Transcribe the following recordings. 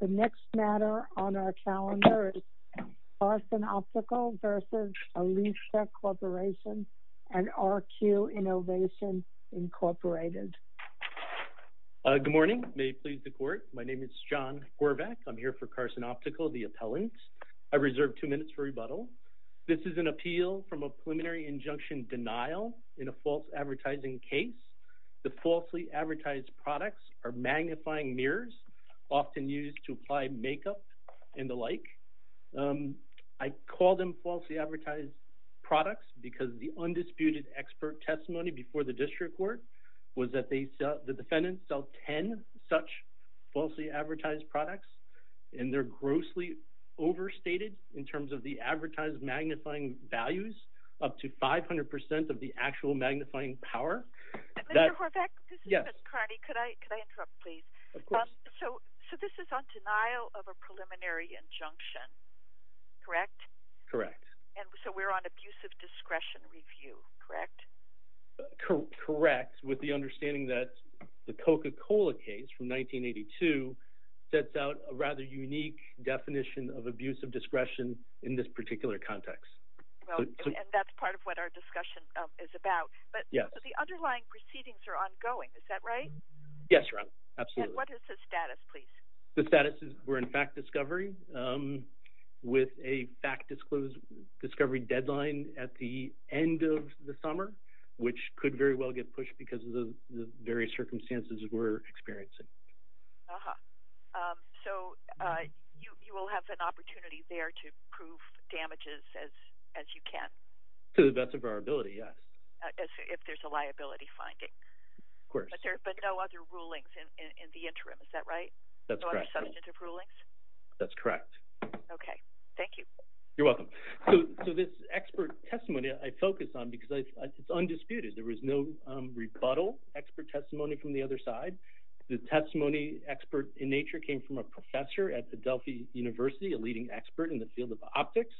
The next matter on our calendar is Carson Optical v. Alista Corporation and RQ Innovation, Inc. Good morning. May it please the Court. My name is John Horvath. I'm here for Carson Optical, the appellant. I reserve two minutes for rebuttal. This is an appeal from a preliminary injunction denial in a false advertising case. The falsely advertised products are magnifying mirrors, often used to apply makeup, and the like. I call them falsely advertised products because the undisputed expert testimony before the District Court was that the defendants sell 10 such falsely advertised products, and they're grossly overstated in terms of the advertised magnifying values, up to 500% of the actual magnifying power. Mr. Horvath, this is Ms. This is on denial of a preliminary injunction, correct? Correct. And so we're on abusive discretion review, correct? Correct, with the understanding that the Coca-Cola case from 1982 sets out a rather unique definition of abusive discretion in this particular context. And that's part of what our discussion is about. But the underlying proceedings are ongoing, is that right? Yes, Your Honor, absolutely. And what is the status, please? The status is we're in fact discovery, with a fact discovery deadline at the end of the summer, which could very well get pushed because of the various circumstances we're experiencing. Uh-huh. So you will have an opportunity there to prove damages as you can? To the best of our ability, yes. If there's a But no other rulings in the interim, is that right? That's correct. No other substantive rulings? That's correct. Okay, thank you. You're welcome. So this expert testimony I focus on because it's undisputed. There was no rebuttal expert testimony from the other side. The testimony expert in nature came from a professor at the Delphi University, a leading expert in the field of optics.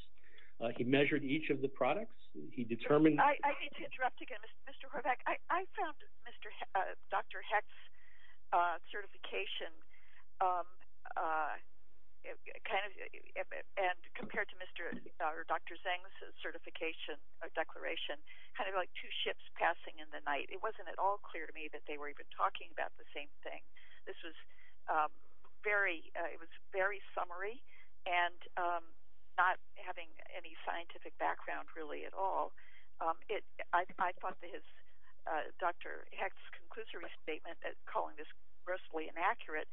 He measured each of the products. He determined... I need to interrupt again, Mr. Horvath. I found Dr. Heck's certification kind of... And compared to Dr. Zeng's certification or declaration, kind of like two ships passing in the night. It wasn't at all clear to me that they were even talking about the same thing. This was very... It was very summary and not having any scientific background really at all. I thought that Dr. Heck's conclusory statement at calling this grossly inaccurate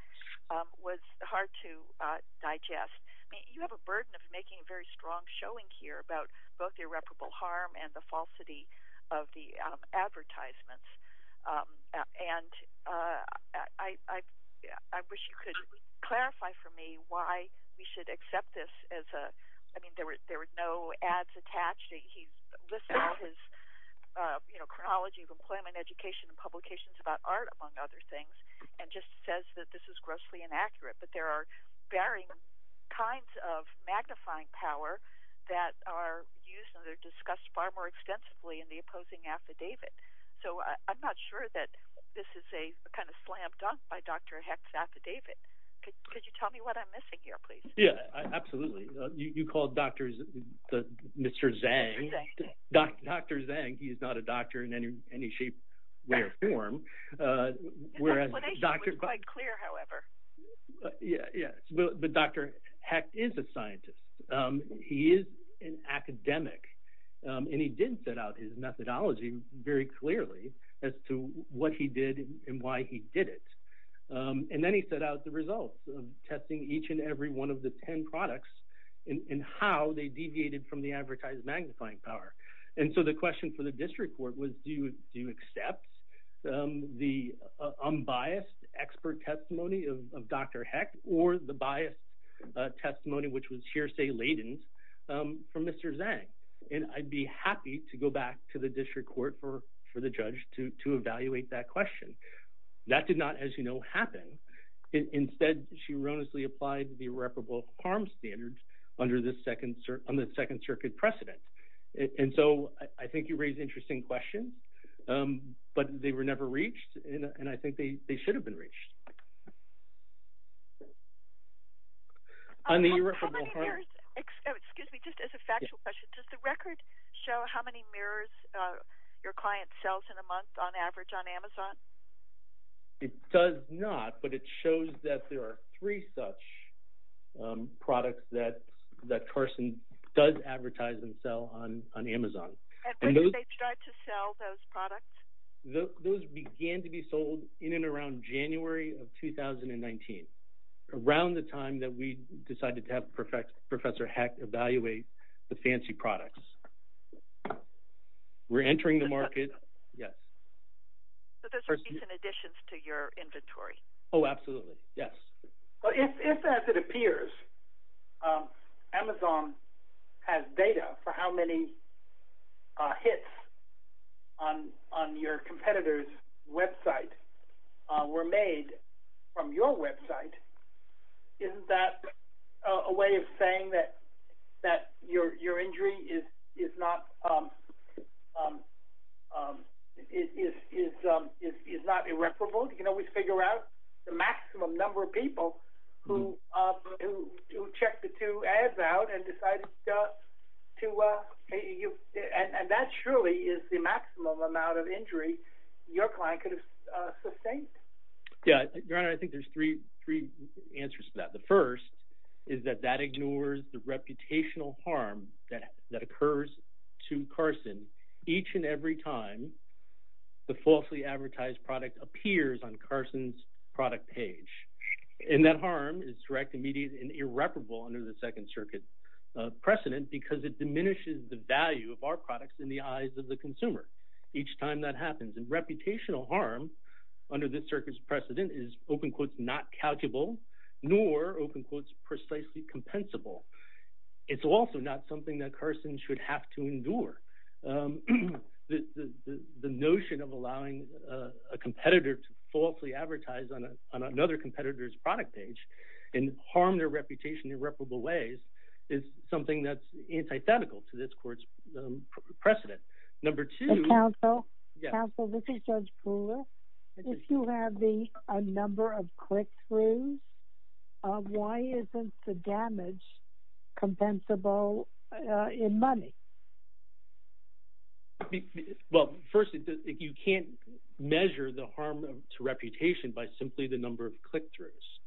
was hard to digest. You have a burden of making a very strong showing here about both irreparable harm and the falsity of the advertisements. And I wish you could clarify for me why we should accept this as a... I mean, there were no ads attached. He's listed his chronology of employment, education, and publications about art, among other things, and just says that this is grossly inaccurate. But there are varying kinds of magnifying power that are used and they're discussed far more extensively in the opposing affidavit. So I'm not sure that this is a kind of slammed up by Dr. Heck's affidavit. Could you tell me what I'm missing here, please? Yeah, absolutely. You called Dr. Zeng. Dr. Zeng, he is not a doctor in any shape, way, or form. His explanation was quite clear, however. Yeah, yeah. But Dr. Heck is a scientist. He is an academic and he did set out his as to what he did and why he did it. And then he set out the results of testing each and every one of the 10 products and how they deviated from the advertised magnifying power. And so the question for the district court was, do you accept the unbiased expert testimony of Dr. Heck or the biased testimony, which was hearsay laden, from Mr. Zeng? And I'd be happy to go back to the judge to evaluate that question. That did not, as you know, happen. Instead, she erroneously applied the irreparable harm standards on the Second Circuit precedent. And so I think you raise interesting questions, but they were never reached. And I think they should have been reached. On the irreparable harm... Excuse me, just as a factual question, does the record show how many mirrors your client sells in a month on average on Amazon? It does not, but it shows that there are three such products that Carson does advertise and sell on Amazon. And when did they start to sell those products? Those began to be sold in and around January of 2019, around the time that we decided to have Professor Heck evaluate the fancy products. We're entering the market... Yes. So those are recent additions to your inventory. Oh, absolutely. Yes. But if, as it appears, Amazon has data for how many hits on your competitor's website were made from your website, isn't that a way of saying that your injury is not irreparable? You can always figure out the maximum number of people who checked the two ads out and decided to... And that surely is the maximum amount of injury your client could have sustained. Yeah. Your Honor, I think there's three answers to that. The first is that that ignores the reputational harm that occurs to Carson each and every time the falsely advertised product appears on Carson's product page. And that harm is direct, immediate, and irreparable under the Second Circuit precedent because it diminishes the value of our products in the eyes of the consumer each time that happens. And reputational harm under this circuit's precedent is, open quotes, not calculable, nor, open quotes, precisely compensable. It's also not something that Carson should have to endure. The notion of allowing a competitor to falsely advertise on another competitor's product page and harm their reputation in irreparable ways is something that's antithetical to this court's precedent. Number two- Counsel, this is Judge Brewer. If you have a number of click-throughs, why isn't the damage compensable in money? Well, first, you can't measure the harm to reputation by simply the number of click-throughs.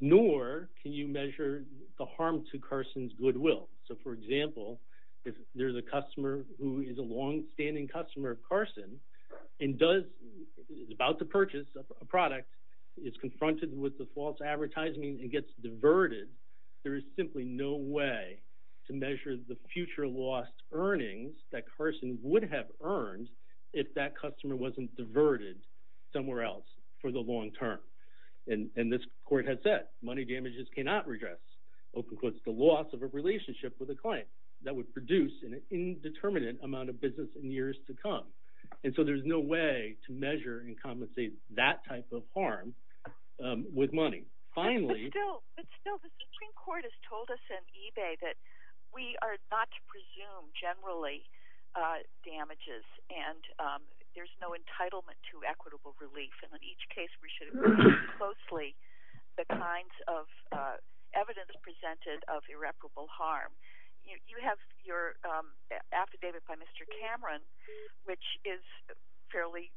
Nor can you measure the harm to Carson's goodwill. So, for example, if there's a customer who is a long-standing customer of Carson and is about to purchase a product, is confronted with the false advertising, and gets diverted, there is simply no way to measure the future lost earnings that Carson would have earned if that customer wasn't diverted somewhere else for the long term. And this court has said, money damages cannot redress, open quotes, the loss of a relationship with a client that would produce an indeterminate amount of business in years to come. And so, there's no way to measure and compensate that type of harm with money. Finally- But still, the Supreme Court has told us in eBay that we are not to presume, generally, damages, and there's no entitlement to equitable relief. And in each case, we should look closely at the kinds of evidence presented of irreparable harm. You have your affidavit by Mr. Cameron, which is fairly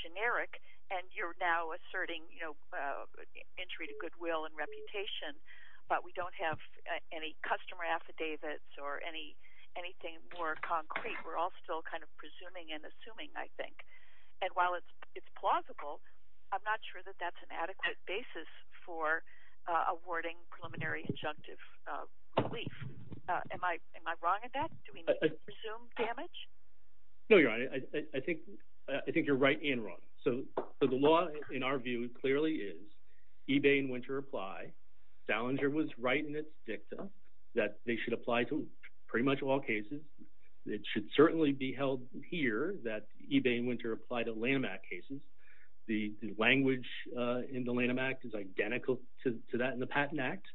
generic, and you're now asserting, you know, entry to goodwill and reputation, but we don't have any customer affidavits or anything more concrete. We're all still kind of presuming and assuming, I think. And while it's plausible, I'm not sure that that's an adequate basis for awarding preliminary injunctive relief. Am I wrong in that? Do we need to presume damage? No, Your Honor. I think you're right and wrong. So, the law, in our view, clearly is, eBay and Wynter apply. Salinger was right in its dicta that they should apply to pretty much all cases. It should certainly be held here that eBay and Wynter apply to Lanham Act cases. The language in the Lanham Act is identical to that in the Patent Act,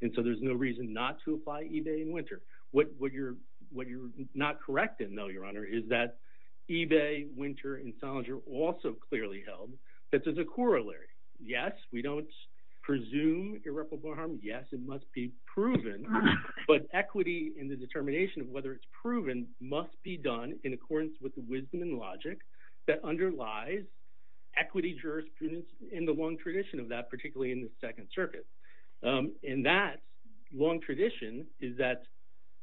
and so there's no reason not to apply eBay and Wynter. What you're not correct in, though, Your Honor, is that eBay, Wynter, and Salinger also clearly held that there's a corollary. Yes, we don't presume irreparable harm. Yes, it must be proven, but equity in the determination of whether it's proven must be done in accordance with the wisdom and logic that underlies equity jurisprudence and the long tradition of that, particularly in the Second Circuit. And that long tradition is that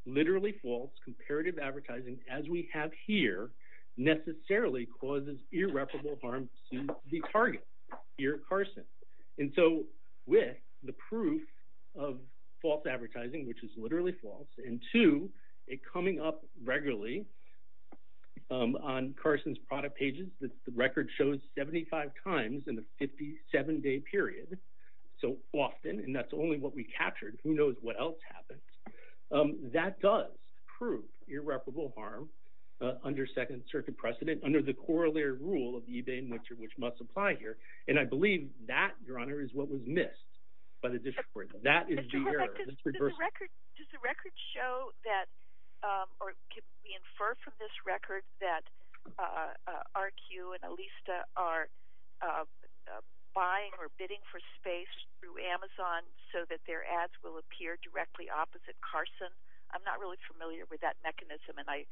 literally false comparative advertising, as we have here, necessarily causes irreparable harm to the target, here at Carson. And so, with the proof of false advertising, which is literally false, and two, it coming up regularly on Carson's product pages, the record shows 75 times in a 57-day period, so often, and that's only what we captured. Who knows what else happens? That does prove irreparable harm under Second Circuit precedent, under the corollary rule of eBay and Wynter, which must apply here. And I believe that, Your Honor, is what was missed by the district court. That is the error. Does the record show that, or can we infer from this record that RQ and Alista are buying or bidding for space through Amazon so that their ads will appear directly opposite Carson? I'm not really familiar with that mechanism, and I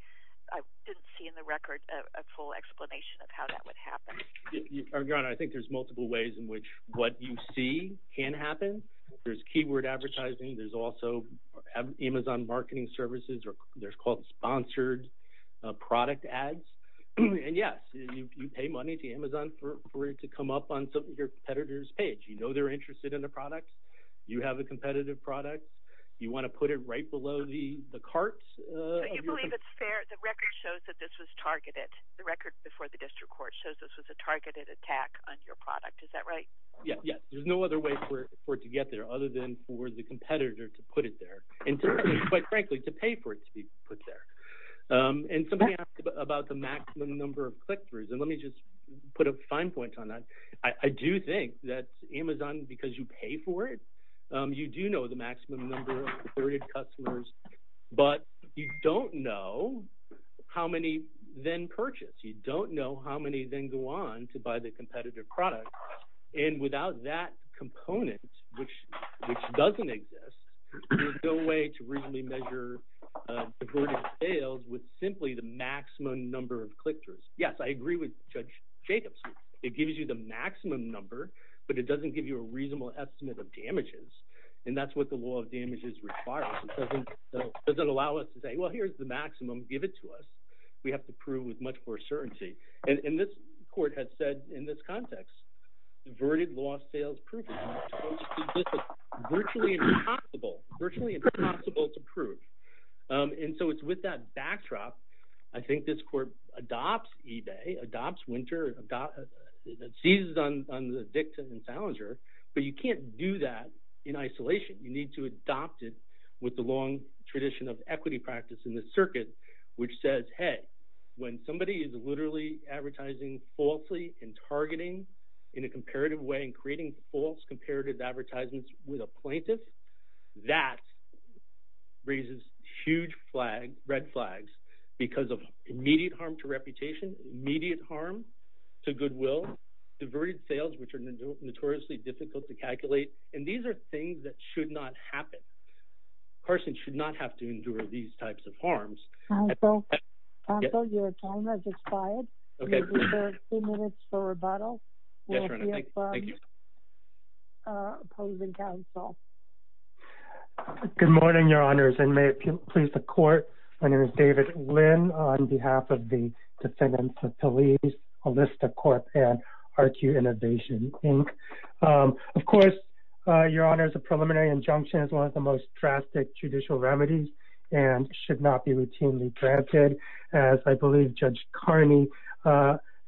didn't see in the record a full explanation of how that would happen. Your Honor, I think there's multiple ways in which what you see can happen. There's keyword advertising. There's also Amazon marketing services, or there's called sponsored product ads. And yes, you pay money to Amazon for it to come up on your competitor's page. You know they're interested in the product. You have a competitive product. You want to put it right below the cart. So you believe it's fair, the record shows that this was targeted, the record before the district court shows this was a targeted attack on your product. Is that right? Yes. There's no other way for it to get there, other than for the competitor to put it there, and quite frankly, to pay for it to be put there. And somebody asked about the maximum number of click-throughs, and let me just put a fine point on that. I do think that Amazon, because you pay for it, you do know the maximum number of targeted customers, but you don't know how many then purchase. You don't know how many then go on to buy the competitive product. And without that component, which doesn't exist, there's no way to really measure the burden of sales with simply the maximum number of click-throughs. Yes, I agree with Judge Jacobs. It gives you the maximum number, but it doesn't give you a reasonable estimate of damages. And that's what the law of damages requires. It doesn't allow us to say, well, here's the maximum, give it to us. We have to prove with much more certainty. And this court has said in this context, diverted lost sales proof is virtually impossible, virtually impossible to prove. And so it's with that backdrop, I think this court adopts eBay, adopts Winter, seizes on the Vixen and Salinger, but you can't do that in isolation. You need to adopt it with the long tradition of equity practice in the circuit, which says, hey, when somebody is targeting in a comparative way and creating false comparative advertisements with a plaintiff, that raises huge red flags because of immediate harm to reputation, immediate harm to goodwill, diverted sales, which are notoriously difficult to calculate. And these are things that should not happen. A person should not have to endure these types of harms. And so your time has expired. Okay. Good morning, your honors, and may it please the court. My name is David Lynn on behalf of the defendants of police, a list of court and RQ innovation, Inc. Of course, your honors, a preliminary injunction is one of the most drastic judicial remedies and should not be routinely granted. As I believe judge Carney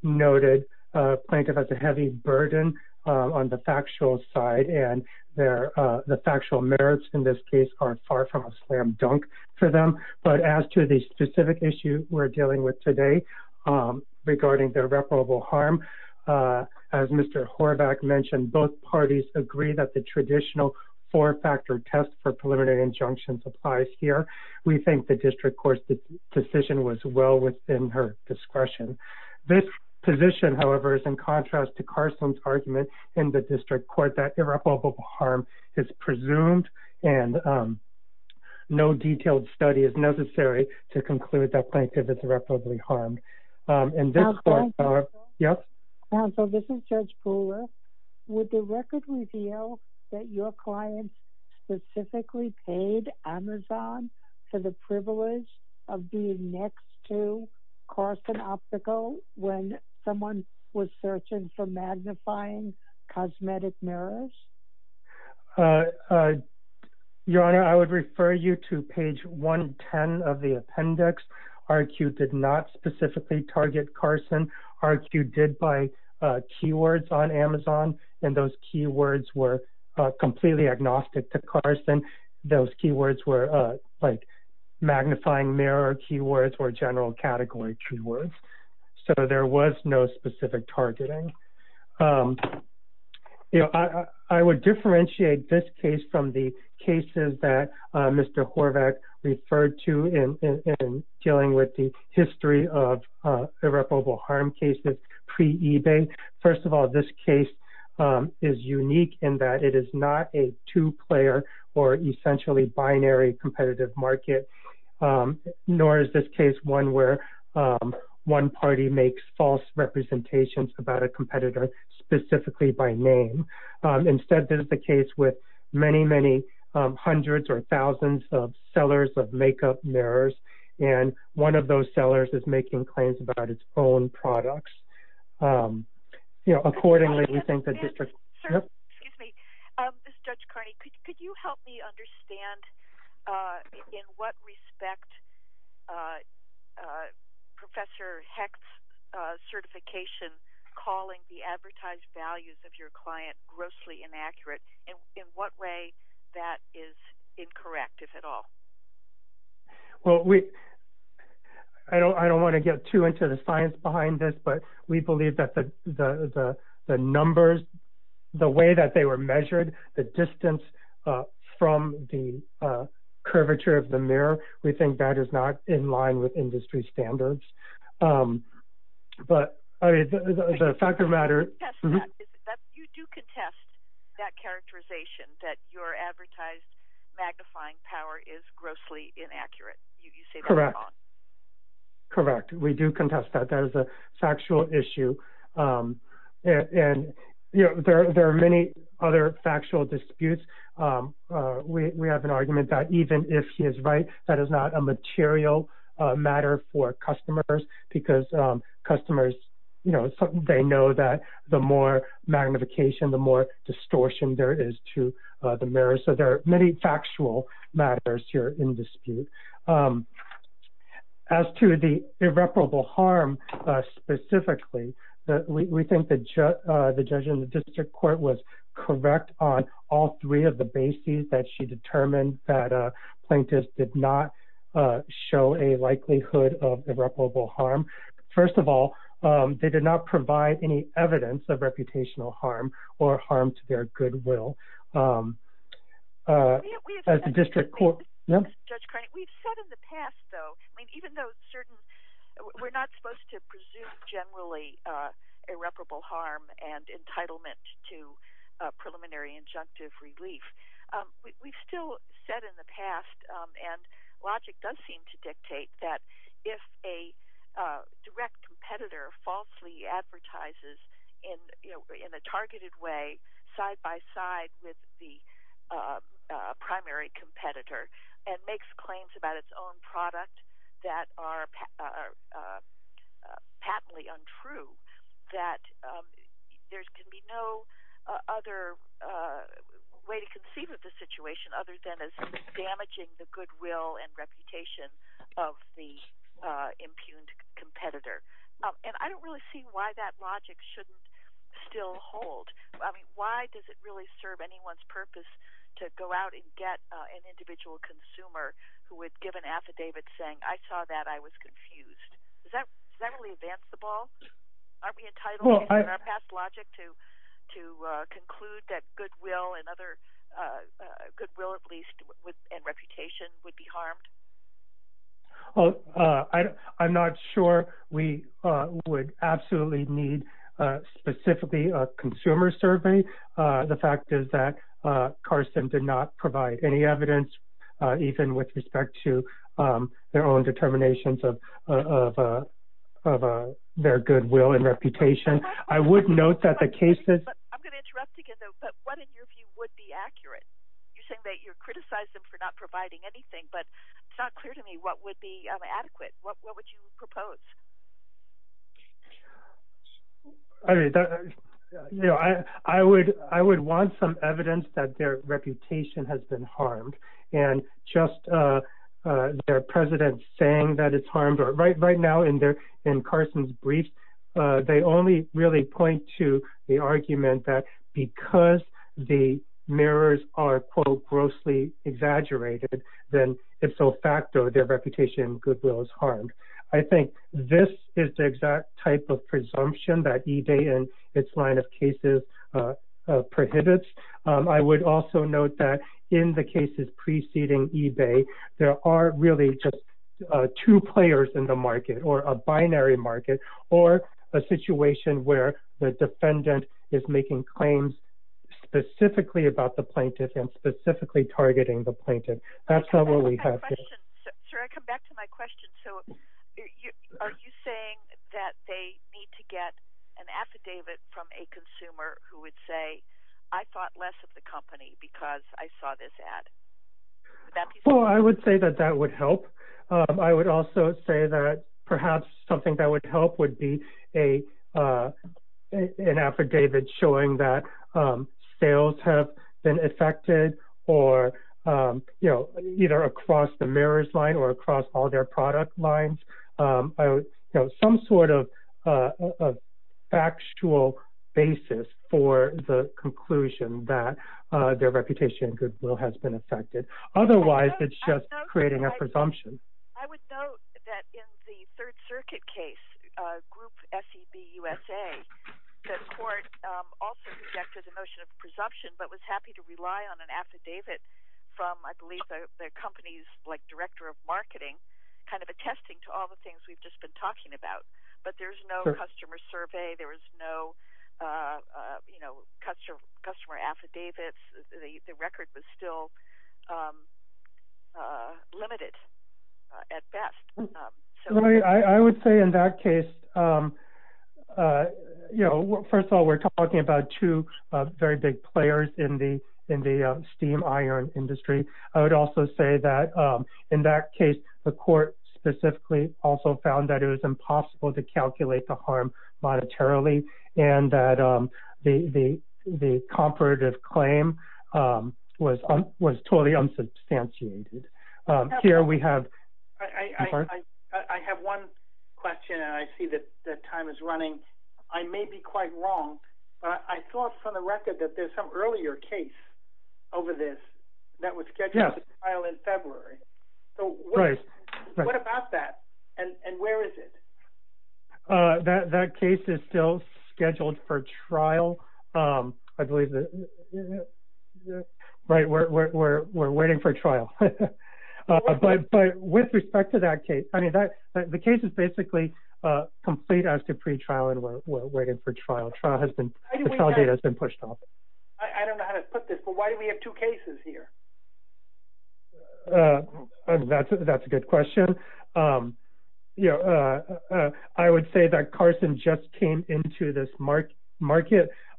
noted, a plaintiff has a heavy burden on the factual side and their, the factual merits in this case are far from a slam dunk for them. But as to the specific issue we're dealing with today regarding their reparable harm, as Mr. Horvath mentioned, both parties agree that the traditional four-factor test for preliminary injunctions applies here. We think the district court's decision was well within her discretion. This position, however, is in contrast to Carson's argument in the district court that irreparable harm is presumed and no detailed study is necessary to conclude that yes. So this is judge Pooler. Would the record reveal that your clients specifically paid Amazon for the privilege of being next to Carson obstacle when someone was searching for magnifying cosmetic mirrors? Your honor, I would refer you to page one 10 of the appendix. RQ did not target Carson. RQ did by keywords on Amazon and those keywords were completely agnostic to Carson. Those keywords were like magnifying mirror keywords or general category keywords. So there was no specific targeting. I would differentiate this case from the cases that Mr. Horvath referred to in dealing with the history of irreparable harm cases pre-ebay. First of all, this case is unique in that it is not a two-player or essentially binary competitive market, nor is this case one where one party makes false representations about a competitor specifically by name. Instead, this is the case with many, many hundreds or thousands of sellers of makeup mirrors, and one of those sellers is making claims about its own products. Accordingly, we think the district... Excuse me. Judge Carney, could you help me understand in what respect Professor Hecht's certification calling the advertised values of your client grossly inaccurate and in what way that is incorrect, if at all? Well, I don't want to get too into the science behind this, but we believe that the numbers, the way that they were measured, the distance from the curvature of the mirror, we think that is not in line with industry standards. But the fact of the matter... You do contest that characterization that your advertised magnifying power is grossly inaccurate. Correct. Correct. We do contest that. That is a factual issue, and there are many other factual disputes. We have an argument that even if he is right, that is not a material matter for customers because customers, they know that the more magnification, the more distortion there is to the mirror. So there are many factual matters here in that we think that the judge in the district court was correct on all three of the bases that she determined that plaintiffs did not show a likelihood of irreparable harm. First of all, they did not provide any evidence of reputational harm or harm to their goodwill. As a district court... Judge Carney, we've said in the past, though, even though certain... Generally irreparable harm and entitlement to preliminary injunctive relief. We've still said in the past, and logic does seem to dictate that if a direct competitor falsely advertises in a targeted way side by side with the primary competitor and makes claims about its own product that are patently untrue, that there can be no other way to conceive of the situation other than as damaging the goodwill and reputation of the impugned competitor. And I don't really see why that logic shouldn't still hold. I mean, why does it really serve anyone's purpose to go out and get an individual consumer who would give an affidavit saying, I saw that, I was confused? Does that really advance the ball? Aren't we entitled in our past logic to conclude that goodwill and reputation would be harmed? I'm not sure we would absolutely need specifically a consumer survey. The fact is that Carson did not provide any evidence, even with respect to their own determinations of their goodwill and reputation. I would note that the cases... I'm going to interrupt again, though, but what in your view would be accurate? You're saying that you criticize them for not providing anything, but it's not clear to me what would be adequate. What would you propose? I would want some evidence that their reputation has been harmed. And just their president saying that it's harmed, or right now in Carson's brief, they only really point to the argument that because the mirrors are, quote, grossly exaggerated, then if so facto their reputation and goodwill is harmed. I think this is the exact type of presumption that eBay and its line of cases prohibits. I would also note that in the cases preceding eBay, there are really just two players in the market, or a binary market, or a situation where the defendant is making claims specifically about the plaintiff and specifically targeting the plaintiff. That's not what we have here. Sir, I come back to my question. So, are you saying that they need to get an affidavit from a consumer who would say, I thought less of the company because I saw this ad? Well, I would say that that would help. I would also say that perhaps something that would help be an affidavit showing that sales have been affected or, you know, either across the mirrors line or across all their product lines. Some sort of factual basis for the conclusion that their reputation and goodwill has been affected. Otherwise, it's just creating a presumption. I would note that in the Third Circuit case, Group SEB USA, the court also rejected the notion of presumption, but was happy to rely on an affidavit from, I believe, the company's director of marketing, kind of attesting to all the things we've just been talking about. But there's no customer survey. There was no customer affidavits. The record was still limited at best. I would say in that case, you know, first of all, we're talking about two very big players in the steam iron industry. I would also say that in that case, the court specifically also found that it was impossible to calculate the harm monetarily and that the comparative claim was totally unsubstantiated. I have one question, and I see that time is running. I may be quite wrong, but I thought from the record that there's some earlier case over this that was scheduled to be filed in that case is still scheduled for trial. I believe that, right, we're waiting for trial. But with respect to that case, I mean, the case is basically complete as to pre-trial, and we're waiting for trial. The trial date has been pushed off. I don't know how to put this, but why do we have two cases here? That's a good question. I would say that Carson just came into this market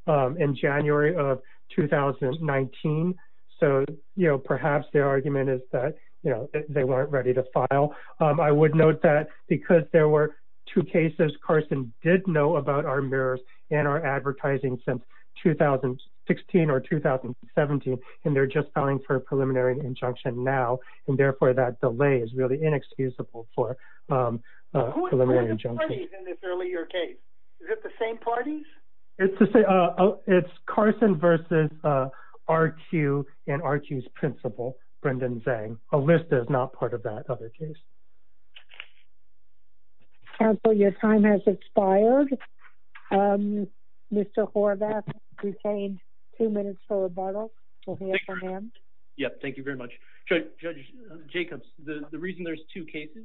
in January of 2019. So, you know, perhaps their argument is that, you know, they weren't ready to file. I would note that because there were two cases, Carson did know about our mirrors and our advertising since 2016 or 2017, and they're just filing for a preliminary injunction now, and therefore that delay is really inexcusable for preliminary injunction. Who were the parties in this earlier case? Is it the same parties? It's Carson versus RQ and RQ's principal, Brendan Zhang. Alyssa is not part of that other case. Counsel, your time has expired. Mr. Horvath, you have two minutes for rebuttal. Yes, thank you very much. Judge Jacobs, the reason there's two cases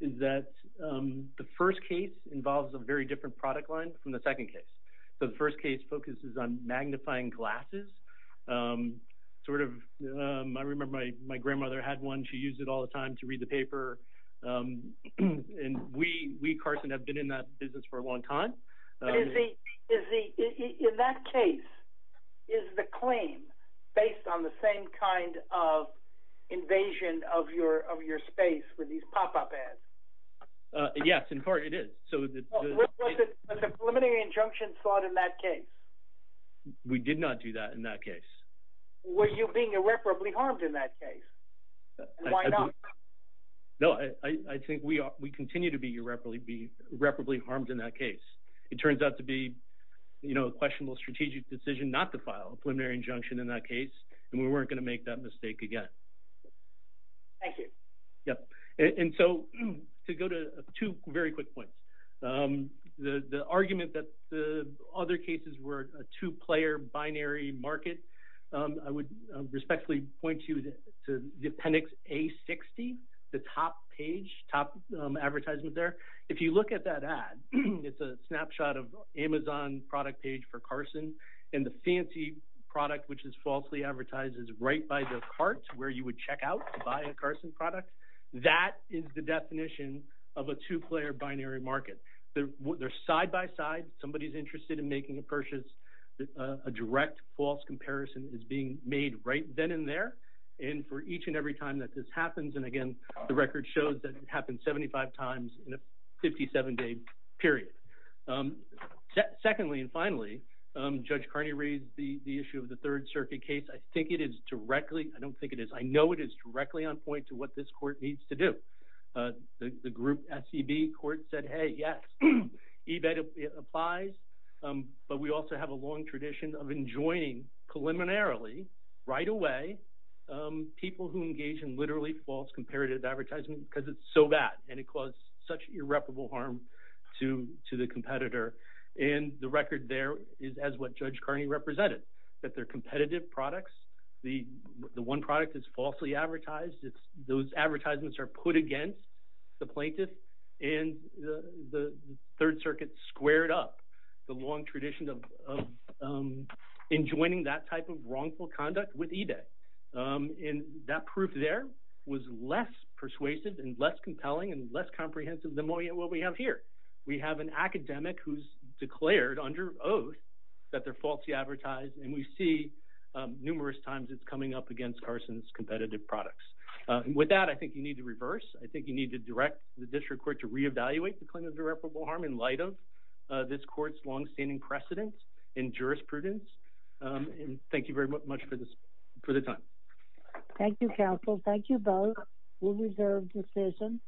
is that the first case involves a very different product line from the second case. The first case focuses on all the time to read the paper, and we, Carson, have been in that business for a long time. In that case, is the claim based on the same kind of invasion of your space with these pop-up ads? Yes, in part it is. Was the preliminary injunction fought in that case? We did not do that in that case. Were you being irreparably harmed in that case? Why not? No, I think we continue to be irreparably harmed in that case. It turns out to be, you know, a questionable strategic decision not to file a preliminary injunction in that case, and we weren't going to make that mistake again. Thank you. Yep, and so to go to two very quick points. The argument that the other cases were a two-player binary market, I would respectfully point you to the appendix A60, the top page, top advertisement there. If you look at that ad, it's a snapshot of Amazon product page for Carson, and the fancy product, which is falsely advertised, is right by the cart where you would check out to buy a Carson product. That is the definition of a two-player binary market. They're side by side. Somebody's interested in making a a direct false comparison is being made right then and there, and for each and every time that this happens, and again, the record shows that it happened 75 times in a 57-day period. Secondly and finally, Judge Carney raised the issue of the Third Circuit case. I think it is directly, I don't think it is, I know it is directly on point to what this court needs to do. The group SCB court said, hey, yes, eBet applies, but we also have a long tradition of enjoining preliminarily, right away, people who engage in literally false comparative advertisement because it's so bad, and it caused such irreparable harm to the competitor, and the record there is as what Judge Carney represented, that they're competitive products. The one product is falsely advertised. Those advertisements are put against the plaintiff, and the Third Circuit squared up the long tradition of enjoining that type of wrongful conduct with eBet, and that proof there was less persuasive and less compelling and less comprehensive than what we have here. We have an academic who's declared under oath that they're numerous times it's coming up against Carson's competitive products. With that, I think you need to reverse. I think you need to direct the district court to reevaluate the claim of irreparable harm in light of this court's long-standing precedence in jurisprudence, and thank you very much for the time. Thank you, counsel. Thank you both. We reserve decision in